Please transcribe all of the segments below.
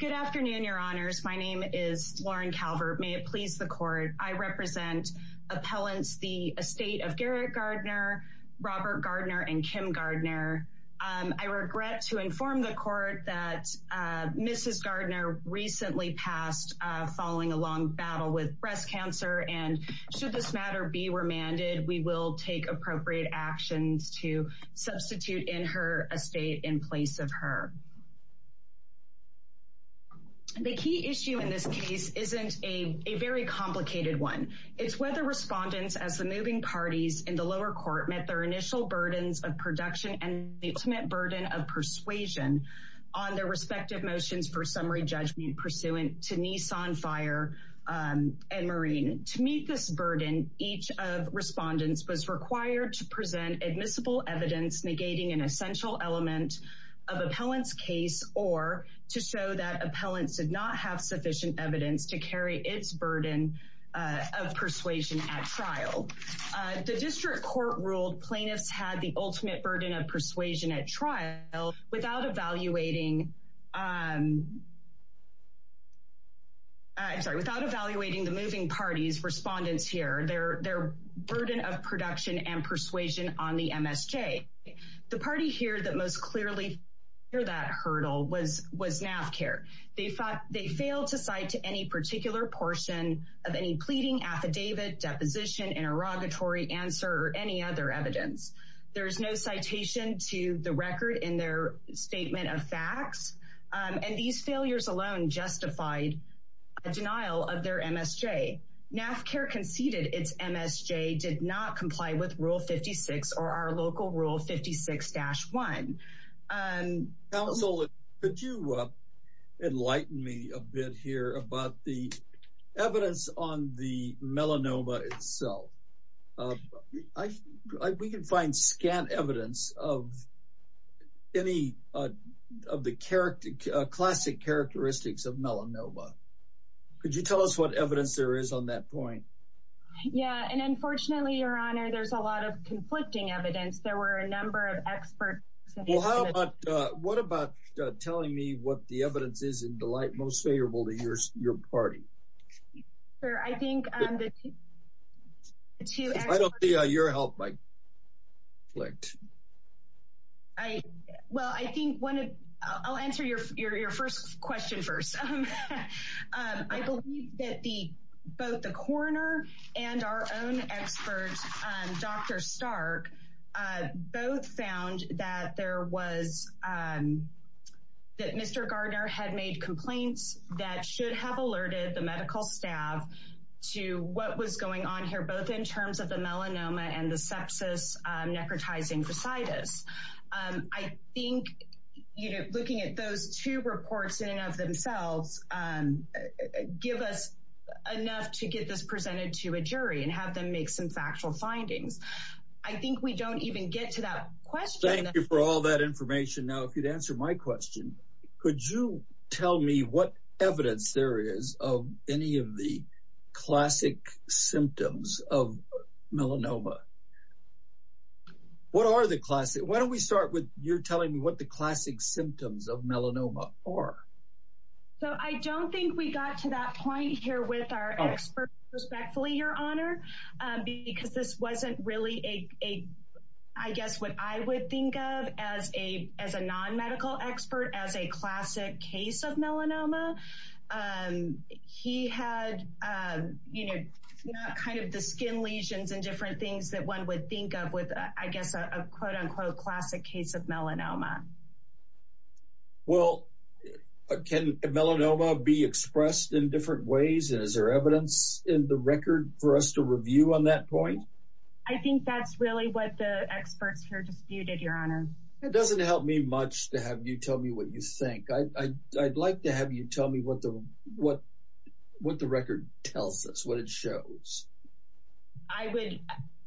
Good afternoon, Your Honors. My name is Lauren Calvert. May it please the Court, I represent appellants the estate of Garrett Gardner, Robert Gardner, and Kim Gardner. I regret to inform the Court that Mrs. Gardner recently passed following a long battle with breast cancer and should this matter be remanded, we will take appropriate actions to substitute in her estate in place of her. The key issue in this case isn't a very complicated one. It's whether respondents as the moving parties in the lower court met their initial burdens of production and the ultimate burden of persuasion on their respective motions for summary judgment pursuant to Nissan Fire and Marine. To meet this burden, each of respondents was required to present admissible evidence negating an essential element of appellant's case or to show that appellants did not have sufficient evidence to carry its burden of persuasion at trial. The district court ruled plaintiffs had the ultimate burden of persuasion at trial without evaluating the moving parties' respondents here, their burden of production and persuasion on the MSJ. The party here that most clearly that hurdle was NAFCARE. They failed to cite to any particular portion of any pleading, affidavit, deposition, interrogatory answer or any other evidence. There is no citation to the record in their statement of facts and these failures alone justified a denial of their MSJ. NAFCARE conceded its rule 56 or our local rule 56-1. Counsel, could you enlighten me a bit here about the evidence on the melanoma itself? We can find scant evidence of any of the classic characteristics of melanoma. Could you tell us what evidence there is on that point? Yeah, and unfortunately, your honor, there's a lot of conflicting evidence. There were a number of experts. What about telling me what the evidence is in the light most favorable to your party? I think the two experts... I don't see your help, Mike. Well, I think I'll answer your first question first. I believe that both the coroner and our own expert, Dr. Stark, both found that Mr. Gardner had made complaints that should have alerted the medical staff to what was going on here, both in terms of the melanoma and the sepsis, necrotizing facitis. I think looking at those two reports in and of themselves give us enough to get this presented to a jury and have them make some factual findings. I think we don't even get to that question. Thank you for all that information. Now, if you'd answer my question, could you tell me what evidence there is of any of the classic symptoms of melanoma? Why don't we start with you telling me what the classic symptoms of melanoma are? I don't think we got to that point here with our expert, respectfully, your honor, because this wasn't really, I guess, what I would think of as a non-medical expert, as a classic case of melanoma. He had, you know, not kind of the skin lesions and different things that one would think of with, I guess, a quote-unquote classic case of melanoma. Well, can melanoma be expressed in different ways? And is there evidence in the record for us to review on that point? I think that's really what the experts here disputed, your honor. It doesn't help me much to have you tell me what you think. I'd like to have you tell me what the record tells us, what it shows. I would,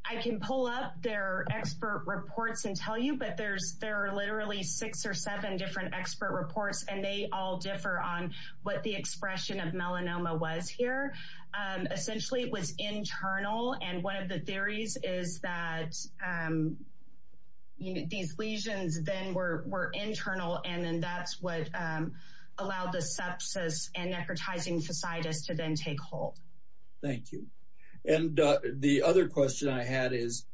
I can pull up their expert reports and tell you, but there are literally six or seven different expert reports and they all differ on what the expression of melanoma was here. Essentially, it was internal. And one of the theories is that these lesions then were internal and then that's what allowed the sepsis and necrotizing facitis to then take hold. Thank you. And the other question I had is,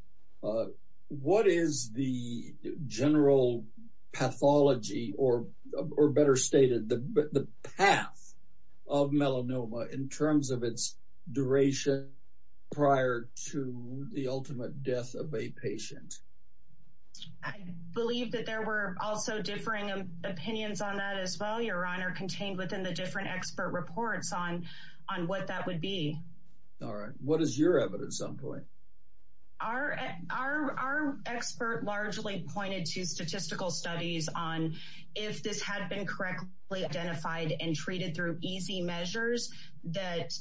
what is the general pathology, or better stated, the path of melanoma in terms of its duration prior to the ultimate death of a patient? I believe that there were also differing opinions on that as well, your honor, contained within the different expert reports on what that would be. All right. What is your evidence on that point? Our expert largely pointed to statistical studies on if this had been correctly identified and treated through easy measures, that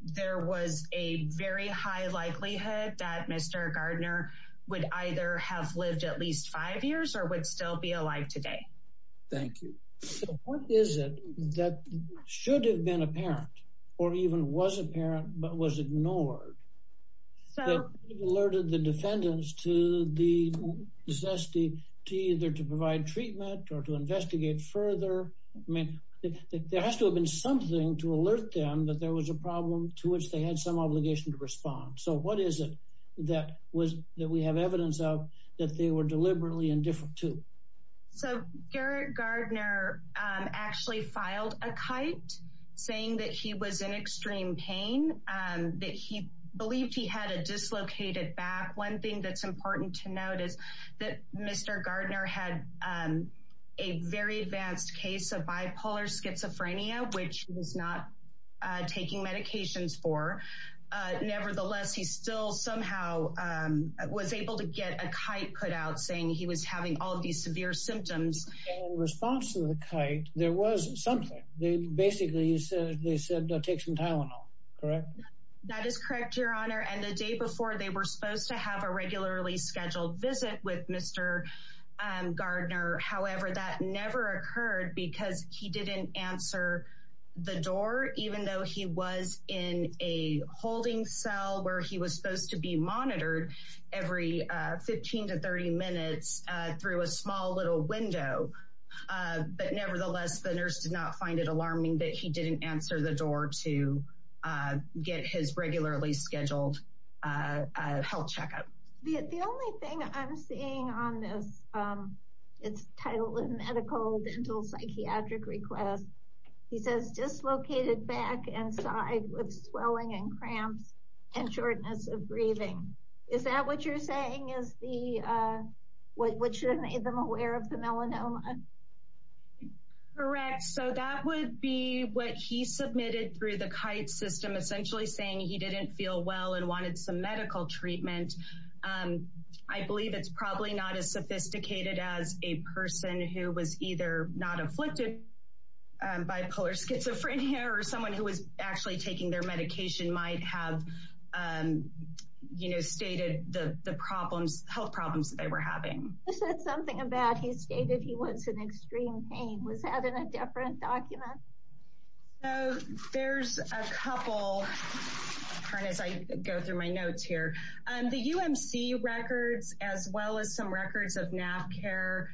there was a very high likelihood that Mr. Gardner would either have lived at least five years or would still be alive today. Thank you. What is it that should have been apparent or even was apparent but was ignored? That it alerted the defendants to the necessity to either to provide treatment or to investigate further. I mean, there has to have been something to alert them that there was a problem to which they had some obligation to respond. So what is it that we have evidence of that they were deliberately indifferent to? So Garrett Gardner actually filed a kite saying that he was in extreme pain, that he believed he had a dislocated back. One thing that's important to note is that Mr. Gardner had a very advanced case of bipolar schizophrenia, which he was not taking medications for. Nevertheless, he still somehow was able to get a kite put out saying he was having all these severe symptoms. In response to the kite, there was something. Basically, they said, take some Tylenol, correct? That is correct, Your Honor. And the day before, they were supposed to have a regularly scheduled visit with Mr. Gardner. However, that never occurred because he didn't answer the door even though he was in a holding cell where he was supposed to be monitored every 15 to 30 minutes through a small little window. But nevertheless, the nurse did not find it alarming that he didn't answer the door to get his regularly scheduled health checkup. The only thing I'm seeing on this, it's titled Medical Dental Psychiatric Request. He says dislocated back and side with swelling and cramps and shortness of breathing. Is that what you're saying is what should have made them aware of the melanoma? Correct. So that would be what he submitted through the kite system, essentially saying he didn't feel well and wanted some medical treatment. I believe it's probably not as different here or someone who was actually taking their medication might have, you know, stated the problems, health problems that they were having. He said something about he stated he was in extreme pain. Was that in a different document? There's a couple, as I go through my notes here. The UMC records, as well as some records of NAF care,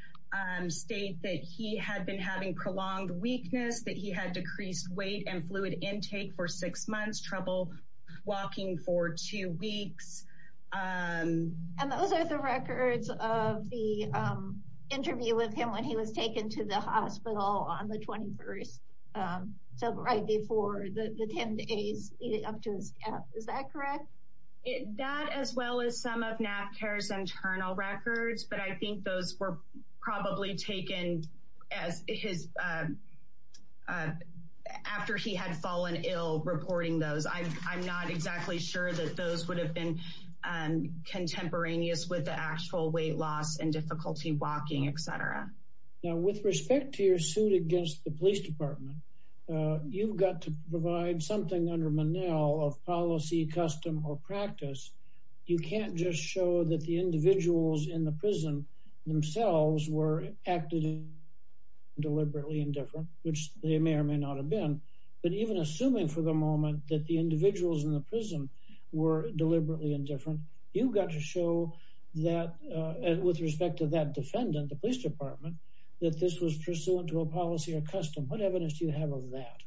state that he had been having prolonged weakness, that he had decreased weight and fluid intake for six months, trouble walking for two weeks. And those are the records of the interview with him when he was taken to the hospital on the 21st. So right before the 10 days leading up to his death. Is that correct? That as well as some of NAF care's internal records. But I think those were probably taken as his after he had fallen ill reporting those. I'm not exactly sure that those would have been contemporaneous with the actual weight loss and difficulty walking, et cetera. Now, with respect to your suit against the police department, you've got to provide something under Monell of policy, custom or practice. You can't just show that the individuals in the prison themselves were acting deliberately indifferent, which they may or may not have been. But even assuming for the moment that the individuals in the prison were deliberately indifferent, you've got to show that with respect to that defendant, the police department, that this was pursuant to a policy or custom. What evidence do you have of that?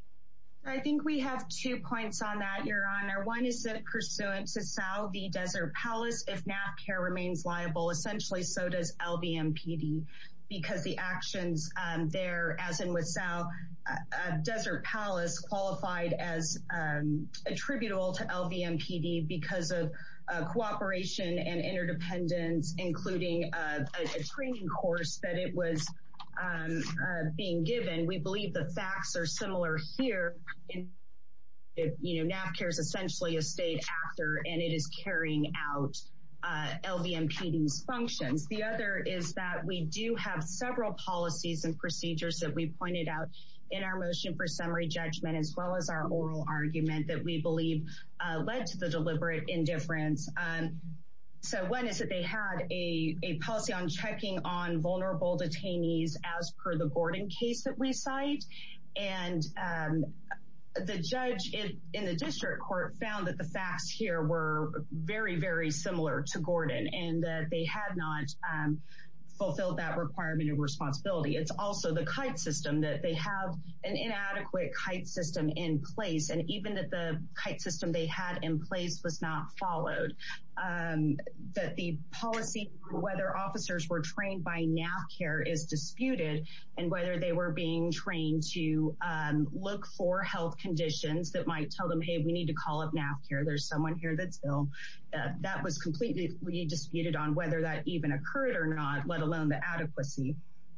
I think we have two points on that, Your Honor. One is that pursuant to Salvi Desert Palace, if NAF care remains liable, essentially, so does LVMPD because the actions there, as in with Salvi Desert Palace qualified as attributable to LVMPD because of cooperation and interdependence, including a training course that it was being given. We believe the facts are similar here. NAF care is essentially a state actor and it is carrying out LVMPD's functions. The other is that we do have several policies and procedures that we pointed out in our motion for summary judgment, as well as our oral argument that we believe led to the deliberate indifference. And so one is that they had a policy on checking on vulnerable detainees as per the Gordon case that we cite. And the judge in the district court found that the facts here were very, very similar to Gordon and that they had not fulfilled that requirement and responsibility. It's also the kite system that they have an inadequate kite system in place. And even that the kite system they had in place was not followed. That the policy, whether officers were trained by NAF care is disputed and whether they were being trained to look for health conditions that might tell them, hey, we need to call up NAF care. There's someone here that's ill. That was completely disputed on whether that even occurred or not, let alone the adequacy.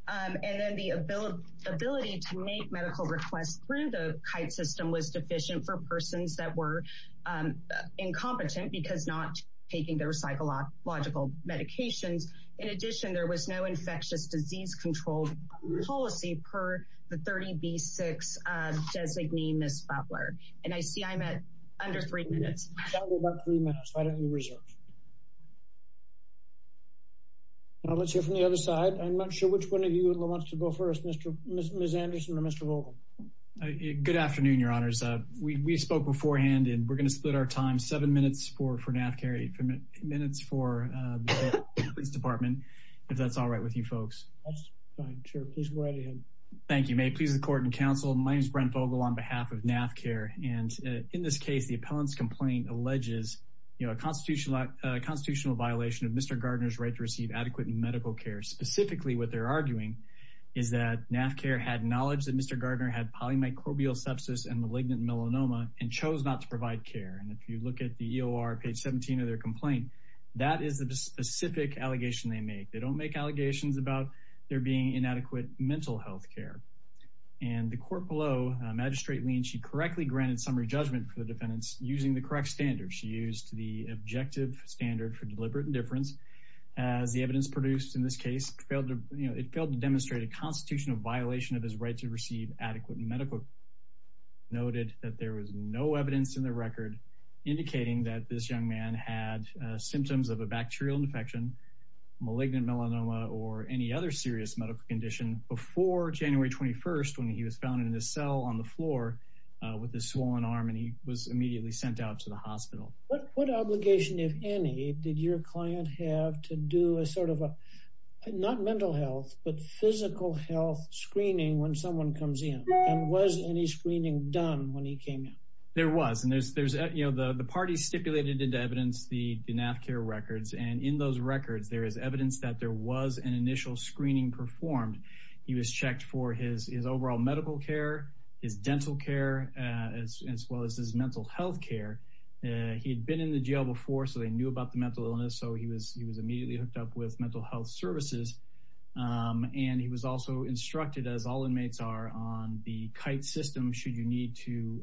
And then the ability to make medical requests through the kite system was deficient for persons that were incompetent because not taking their psychological medications. In addition, there was no infectious disease control policy per the 30B6 designee, Ms. Butler. And I see I'm at under three minutes. About three minutes. Why don't you reserve? Now let's hear from the other side. I'm not sure which one of you wants to go first, Ms. Anderson or Mr. Vogel. Good afternoon, your honors. We spoke beforehand and we're going to split our time seven minutes for NAF care, eight minutes for the police department, if that's all right with you folks. Fine, sure. Please go right ahead. Thank you. May it please the court and counsel. My name is Brent Vogel on behalf of NAF care. And in this case, the appellant's complaint alleges a constitutional violation of Mr. Gardner's right to receive adequate medical care. Specifically, what they're arguing is that NAF care had knowledge that Mr. Gardner had polymicrobial sepsis and malignant melanoma and chose not to provide care. And if you look at the EOR page 17 of their complaint, that is the specific allegation they make. They don't make allegations about there being inadequate mental health care. And the court below, Magistrate Leen, she correctly granted summary judgment for the defendants using the correct standards. She used the objective standard for deliberate indifference as the evidence produced in this case failed to, you know, it failed to demonstrate a constitutional violation of his right to receive adequate medical care. Noted that there was no evidence in the record indicating that this young man had symptoms of a bacterial infection, malignant melanoma, or any other serious medical condition before January 21st when he was found in a cell on the floor with a swollen arm and he was immediately sent out to the hospital. What obligation, if any, did your client have to do a sort of a, not mental health, but physical health screening when someone comes in? And was any screening done when he came in? There was. And there's, you know, the party stipulated into evidence the NAF care records. And in those records, there is evidence that there was an initial screening performed. He was checked for his overall medical care, his dental care, as well as his mental health care. He had been in the jail before, so they knew about the mental illness. So he was immediately hooked up with mental health services. And he was also instructed, as all inmates are, on the KITE system should you need to,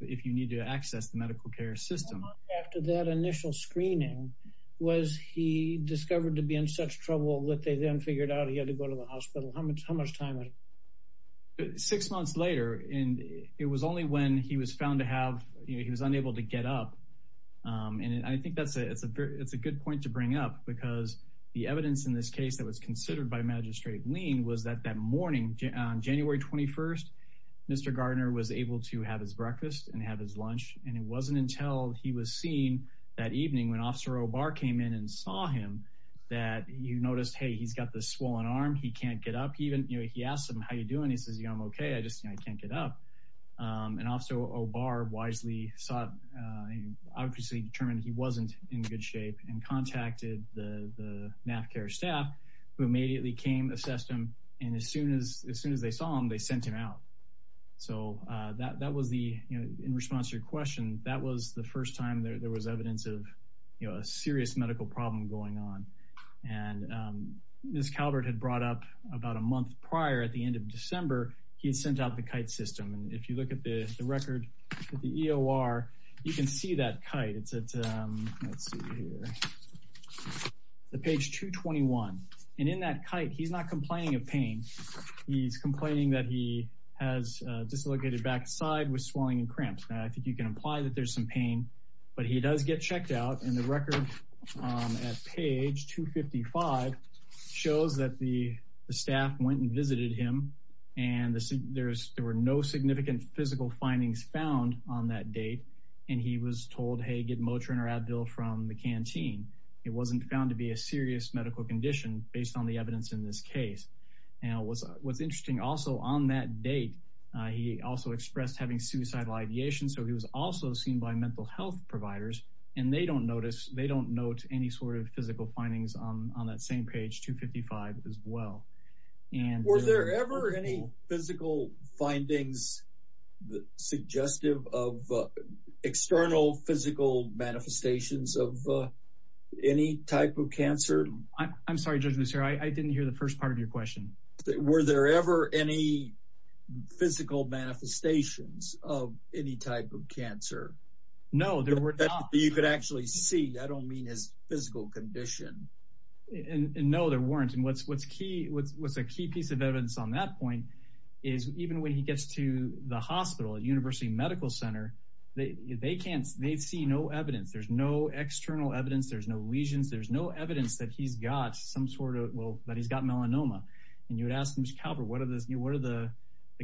if you need to access the medical care system. After that initial screening, was he discovered to be in such trouble that they then figured out he had to go to the hospital? How much time? Six months later, and it was only when he was found to have, he was unable to get up. And I think that's a good point to bring up because the evidence in this case that was considered by Magistrate Lean was that that morning, January 21st, Mr. Gardner was able to have his breakfast and have his lunch. And it wasn't until he was seen that evening when Officer O'Barr came in and saw him that you noticed, hey, he's got this swollen arm, he can't get up even. He asked him, how are you doing? He says, yeah, I'm okay. I just can't get up. And Officer O'Barr wisely, obviously determined he wasn't in good shape and contacted the NAFCA staff who immediately came, assessed him. And as soon as they saw him, they sent him out. So that was the, in response to your question, that was the first time there was evidence of, you know, a serious medical problem going on. And Ms. Calvert had brought up about a month prior, at the end of December, he had sent out the kite system. And if you look at the record, at the EOR, you can see that kite. It's at, let's see here, the page 221. And in that kite, he's not complaining of pain. He's complaining that he has dislocated backside with swelling and cramps. Now, I think you can imply that there's some pain, but he does get checked out. And the record at page 255 shows that the staff went and visited him. And there were no significant physical findings found on that date. And he was told, hey, get Motrin or Advil from the canteen. It wasn't found to be a serious medical condition based on the evidence in this case. And what's interesting also, on that date, he also expressed having suicidal ideation. So he was also seen by mental health providers, and they don't notice, they don't note any sort of physical findings on that same page 255 as well. Were there ever any physical findings suggestive of external physical manifestations of any type of cancer? I'm sorry, Judge Lucero, I didn't hear the first part of your question. Were there ever any physical manifestations of any type of cancer? No, there were not. You could actually see, I don't mean his physical condition. And no, there weren't. And what's a key piece of evidence on that point is even when he gets to the hospital at University Medical Center, they see no evidence. There's no external evidence. There's no lesions. There's no evidence that he's got some sort of, that he's got melanoma. And you would ask Mr. Kalber, what are the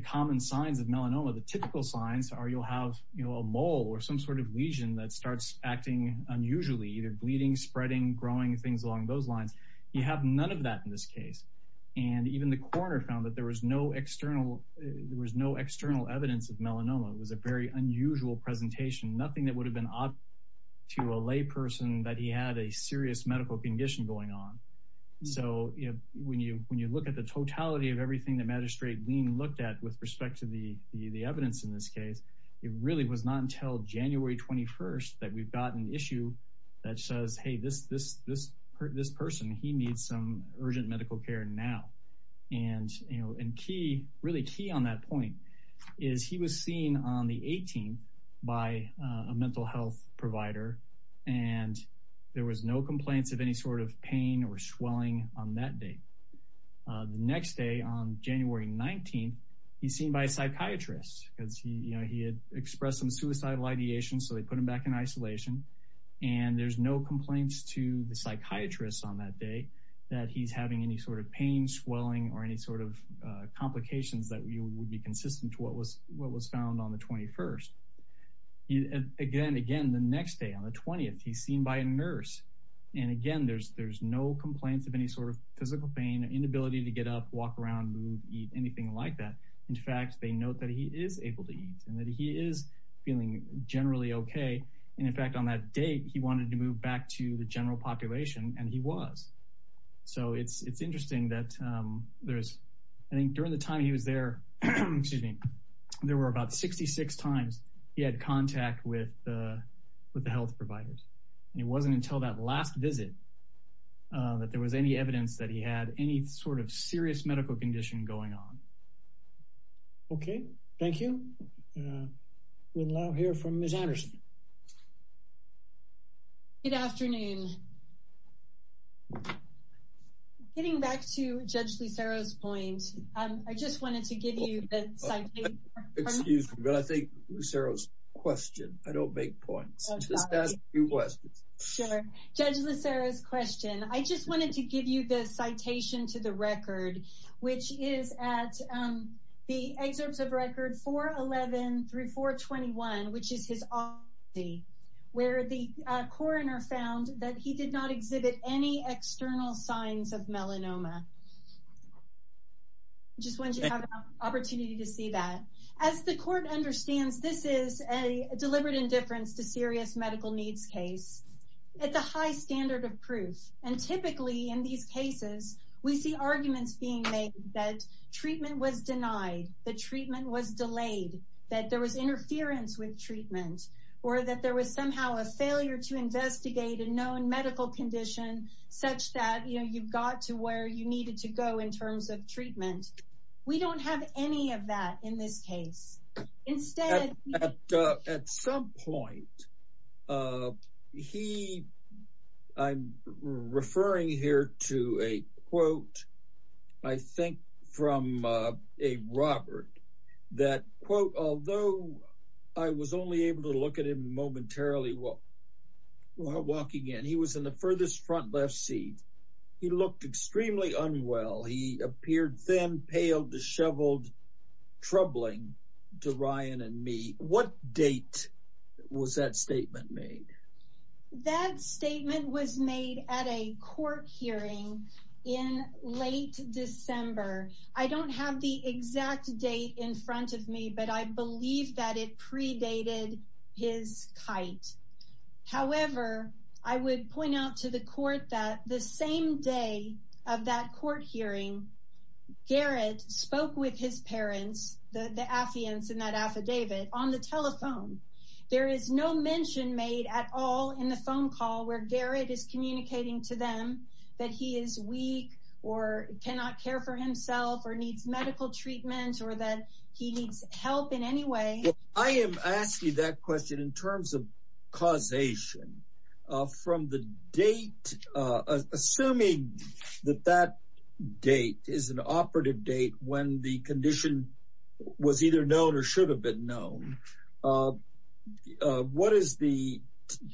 common signs of melanoma? The typical signs are you'll have a mole or some sort of lesion that starts acting unusually, either bleeding, spreading, growing, things along those lines. You have none of that in this case. And even the coroner found that there was no external, there was no external evidence of melanoma. It was a very unusual presentation, nothing that would have been obvious to a lay person that he had a serious medical condition going on. So when you look at the totality of everything that Magistrate Lean looked at with respect to the evidence in this case, it really was not until January 21st that we've gotten an issue that says, hey, this person, he needs some urgent medical care now. And really key on that point is he was seen on the 18th by a mental health provider. And there was no complaints of any sort of pain or swelling on that day. The next day on January 19th, he's seen by a psychiatrist because he had expressed some suicidal ideation. So they put him back in isolation. And there's no complaints to the psychiatrist on that day that he's having any sort of pain, swelling, or any sort of complications that would be consistent to what was found on the 21st. Again, again, the next day on the 20th, he's seen by a nurse. And again, there's no complaints of any sort of physical pain, inability to get up, walk around, move, eat, anything like that. In fact, they note that he is able to eat and that he is feeling generally okay. And in fact, on that date, he wanted to move back to the general population and he was. So it's interesting that there's, I think during the time he was there, excuse me, there were about 66 times he had contact with the health providers. And it wasn't until that last visit that there was any evidence that he had any sort of serious medical condition going on. Okay, thank you. We'll now hear from Ms. Anderson. Good afternoon. Getting back to Judge Lucero's point, I just wanted to give you the citation. Excuse me, but I think Lucero's question, I don't make points. Sure, Judge Lucero's question. I just wanted to give you the citation to the record, which is at the excerpts of record 411 through 421, which is his autopsy, where the coroner found that he did not exhibit any external signs of melanoma. I just wanted you to have an opportunity to see that. As the court understands, this is a deliberate indifference to serious medical needs case. It's a high standard of proof. And that treatment was denied, the treatment was delayed, that there was interference with treatment, or that there was somehow a failure to investigate a known medical condition such that, you know, you got to where you needed to go in terms of treatment. We don't have any of that in this case. At some point, he, I'm referring here to a quote, I think from a Robert, that quote, although I was only able to look at him momentarily while walking in, he was in the to Ryan and me. What date was that statement made? That statement was made at a court hearing in late December. I don't have the exact date in front of me, but I believe that it predated his kite. However, I would point out the court that the same day of that court hearing, Garrett spoke with his parents, the Affians in that affidavit on the telephone. There is no mention made at all in the phone call where Garrett is communicating to them that he is weak, or cannot care for himself or needs medical treatment or that he needs help in any way. I am asking that question in terms of causation from the date, assuming that that date is an operative date when the condition was either known or should have been known. What is the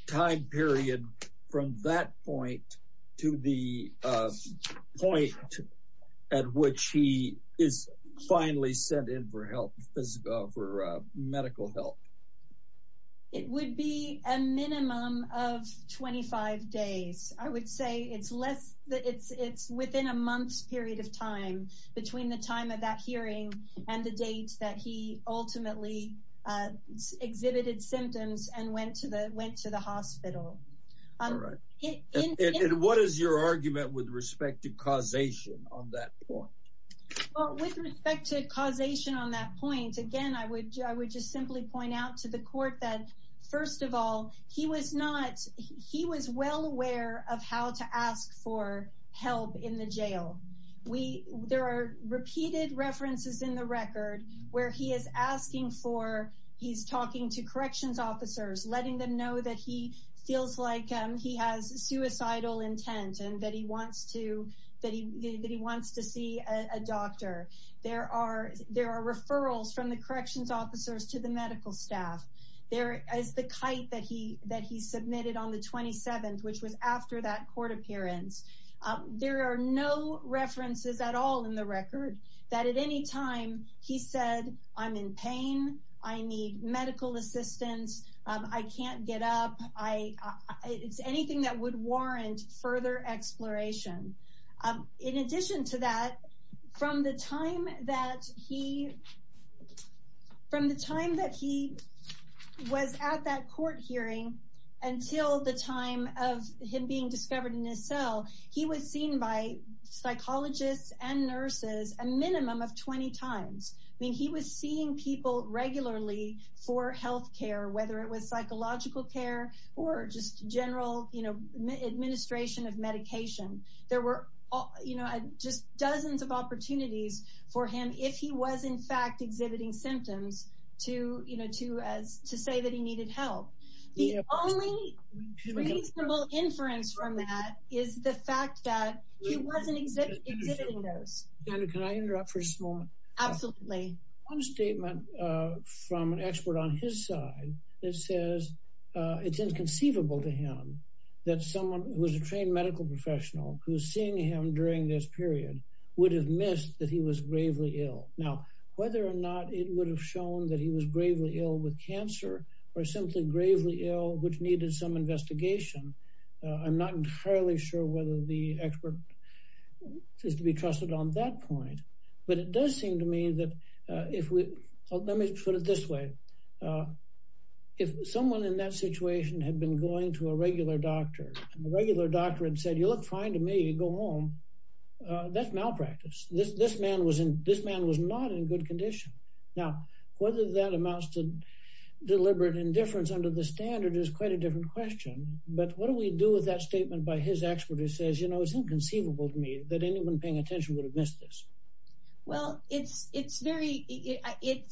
time period from that point to the point at which he is finally sent in for medical help? It would be a minimum of 25 days. I would say it's within a month's period of time between the time of that hearing and the date that he ultimately exhibited symptoms and went to the hospital. What is your argument with respect to causation on that point? With respect to causation on that point, again, I would just simply point out to the court that first of all, he was well aware of how to ask for help in the jail. There are repeated references in the record where he is talking to corrections officers, letting them know that he feels like he has suicidal intent and that he wants to see a doctor. There are referrals from the corrections officers to the medical staff. There is the kite that he submitted on the 27th, which was after that court appearance. There are no references at all in the record that at any time he said, I'm in pain. I need medical assistance. I can't get up. It's anything that would warrant further exploration. In addition to that, from the time that he was at that court hearing until the time of him being discovered in his cell, he was seen by psychologists and nurses a minimum of 20 times. He was seeing people regularly for healthcare, whether it was psychological care or just general administration of medication. There were dozens of opportunities for him if he was in fact exhibiting symptoms to say that he needed help. The only reasonable inference from that is the fact that he wasn't exhibiting those. Can I interrupt for a moment? Absolutely. One statement from an expert on his side that says it's inconceivable to him that someone who was a trained medical professional, who's seeing him during this period, would have missed that he was gravely ill. Now, whether or not it would have shown that he was gravely ill with cancer or simply gravely ill, which needed some investigation, I'm not entirely sure whether the expert is to be trusted on that point. Let me put it this way. If someone in that situation had been going to a regular doctor and the regular doctor had said, you look fine to me, go home, that's malpractice. This man was not in good condition. Now, whether that amounts to deliberate indifference under the standard is quite a different question. But what do we do with that statement by his expert who says, you know, it's inconceivable to me that anyone paying attention would have missed this? Well, it's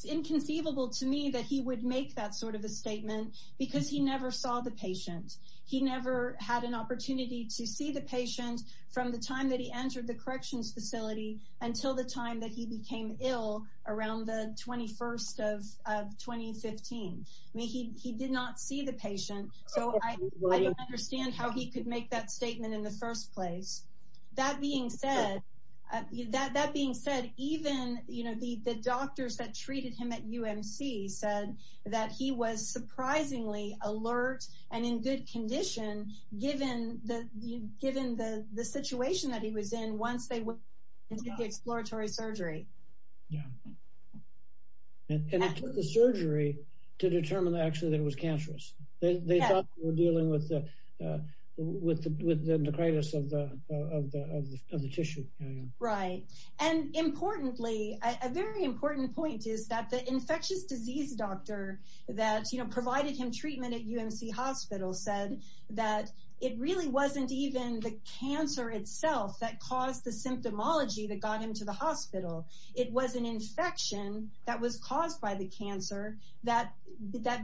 inconceivable to me that he would make that sort of a statement because he never saw the patient. He never had an opportunity to see the patient from the time that he entered the corrections facility until the time that he became ill around the 21st of 2015. I mean, he did not see the patient. So I don't understand how he could make that statement in the first place. That being said, even, you know, the doctors that treated him at UMC said that he was surprisingly alert and in good condition given the situation that he was in once they went into the exploratory surgery. And it took the surgery to determine actually that it was cancerous. They thought they were dealing with the necritis of the tissue. Right. And importantly, a very important point is that the infectious disease doctor that, you know, provided him treatment at UMC hospital said that it really wasn't even the cancer itself that caused the symptomology that got him to the hospital. It was an infection that was caused by the cancer that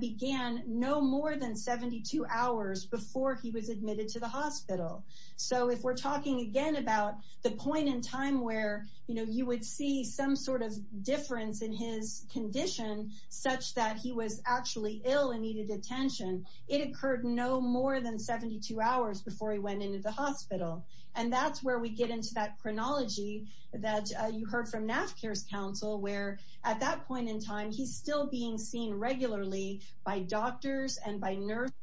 began no more than 72 hours before he was admitted to the hospital. So if we're talking again about the point in time where, you know, you would see some sort of difference in his condition such that he was actually ill and needed attention. It occurred no more than 72 hours before he went into the hospital. And that's where we get into that chronology that you heard from NAFCARE's counsel where at that point in time, he's still being seen regularly by doctors and by nurses.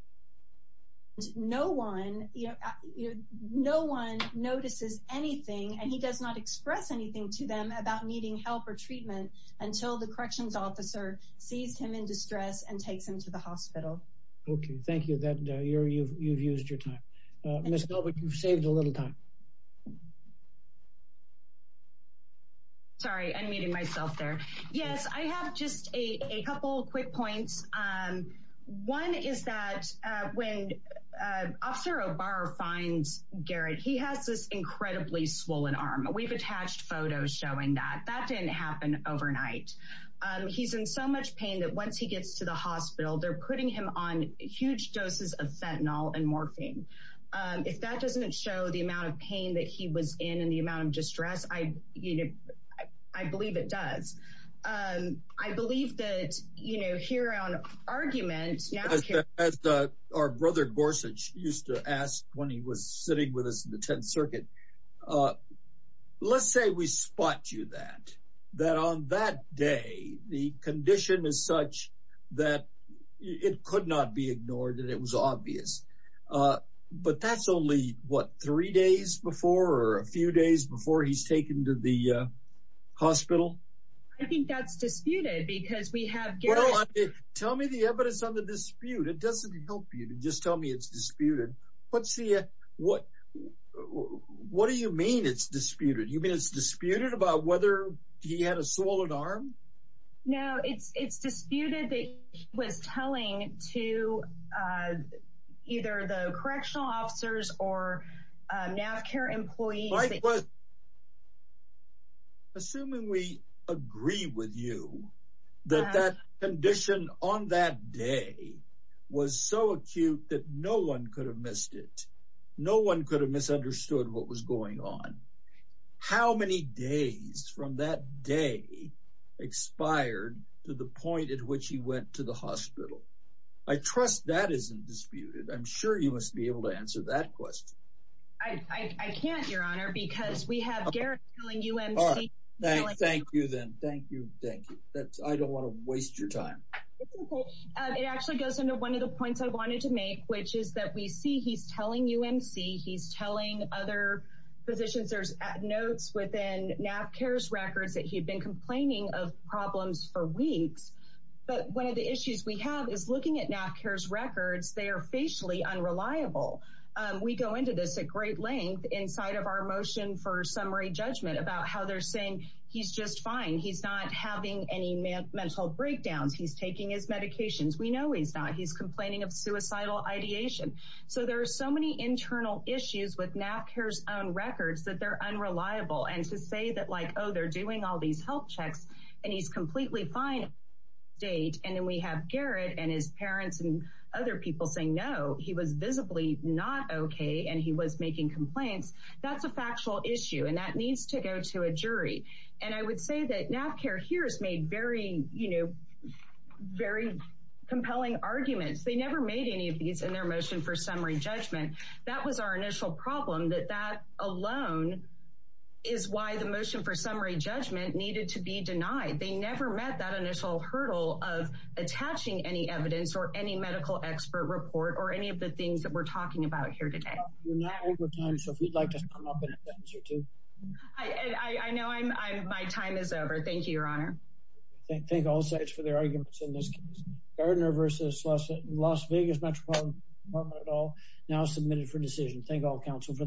No one, you know, no one notices anything and he does not express anything to them about needing help or treatment until the corrections officer sees him in distress and takes him to the hospital. Okay. Thank you. You've used your time. Ms. Gilbert, you've saved a little time. Sorry. I'm muting myself there. Yes, I have just a couple quick points. One is that when Officer O'Barr finds Garrett, he has this incredibly swollen arm. We've attached photos showing that. That didn't happen overnight. He's in so much pain that once he gets to the hospital, they're putting him on huge doses of fentanyl and morphine. If that doesn't show the amount of pain that he was in and the amount of distress, I believe it does. I believe that, you know, here on argument... As our brother Gorsuch used to ask when he was sitting with us in the 10th unit, let's say we spot you that, that on that day, the condition is such that it could not be ignored and it was obvious. But that's only, what, three days before or a few days before he's taken to the hospital? I think that's disputed because we have Garrett... Tell me the evidence on the dispute. It doesn't help you to just tell me it's disputed. What do you mean it's disputed? You mean it's disputed about whether he had a swollen arm? No, it's disputed that he was telling to either the correctional officers or NAVCAR employees... Assuming we agree with you that that condition on that day was so acute that no one could have missed it. No one could have misunderstood what was going on. How many days from that day expired to the point at which he went to the hospital? I trust that isn't disputed. I'm sure you must be able to answer that question. I can't, Your Honor, because we have Garrett telling UMC... Thank you then. Thank you. Thank you. I don't want to waste your time. It actually goes into one of the points I wanted to make, which is that we see he's telling UMC, he's telling other physicians, there's notes within NAVCAR's records that he'd been complaining of problems for weeks. But one of the issues we have is looking at NAVCAR's records, they are unreliable. We go into this at great length inside of our motion for summary judgment about how they're saying he's just fine. He's not having any mental breakdowns. He's taking his medications. We know he's not. He's complaining of suicidal ideation. So there are so many internal issues with NAVCAR's own records that they're unreliable. And to say that like, oh, they're doing all these health checks and he's completely fine. And then we have Garrett and his parents and other people saying, no, he was visibly not okay. And he was making complaints. That's a factual issue. And that needs to go to a jury. And I would say that NAVCAR here has made very compelling arguments. They never made any of these in their motion for summary judgment. That was our initial problem, that that alone is why the motion for summary judgment needed to be denied. They never met that initial hurdle of attaching any evidence or any medical expert report or any of the things that we're talking about here today. I know my time is over. Thank you, Your Honor. Thank all sides for their arguments in this case. Gardner v. Las Vegas Metropolitan Department et al. Now submitted for decision. Thank all counsel for their arguments.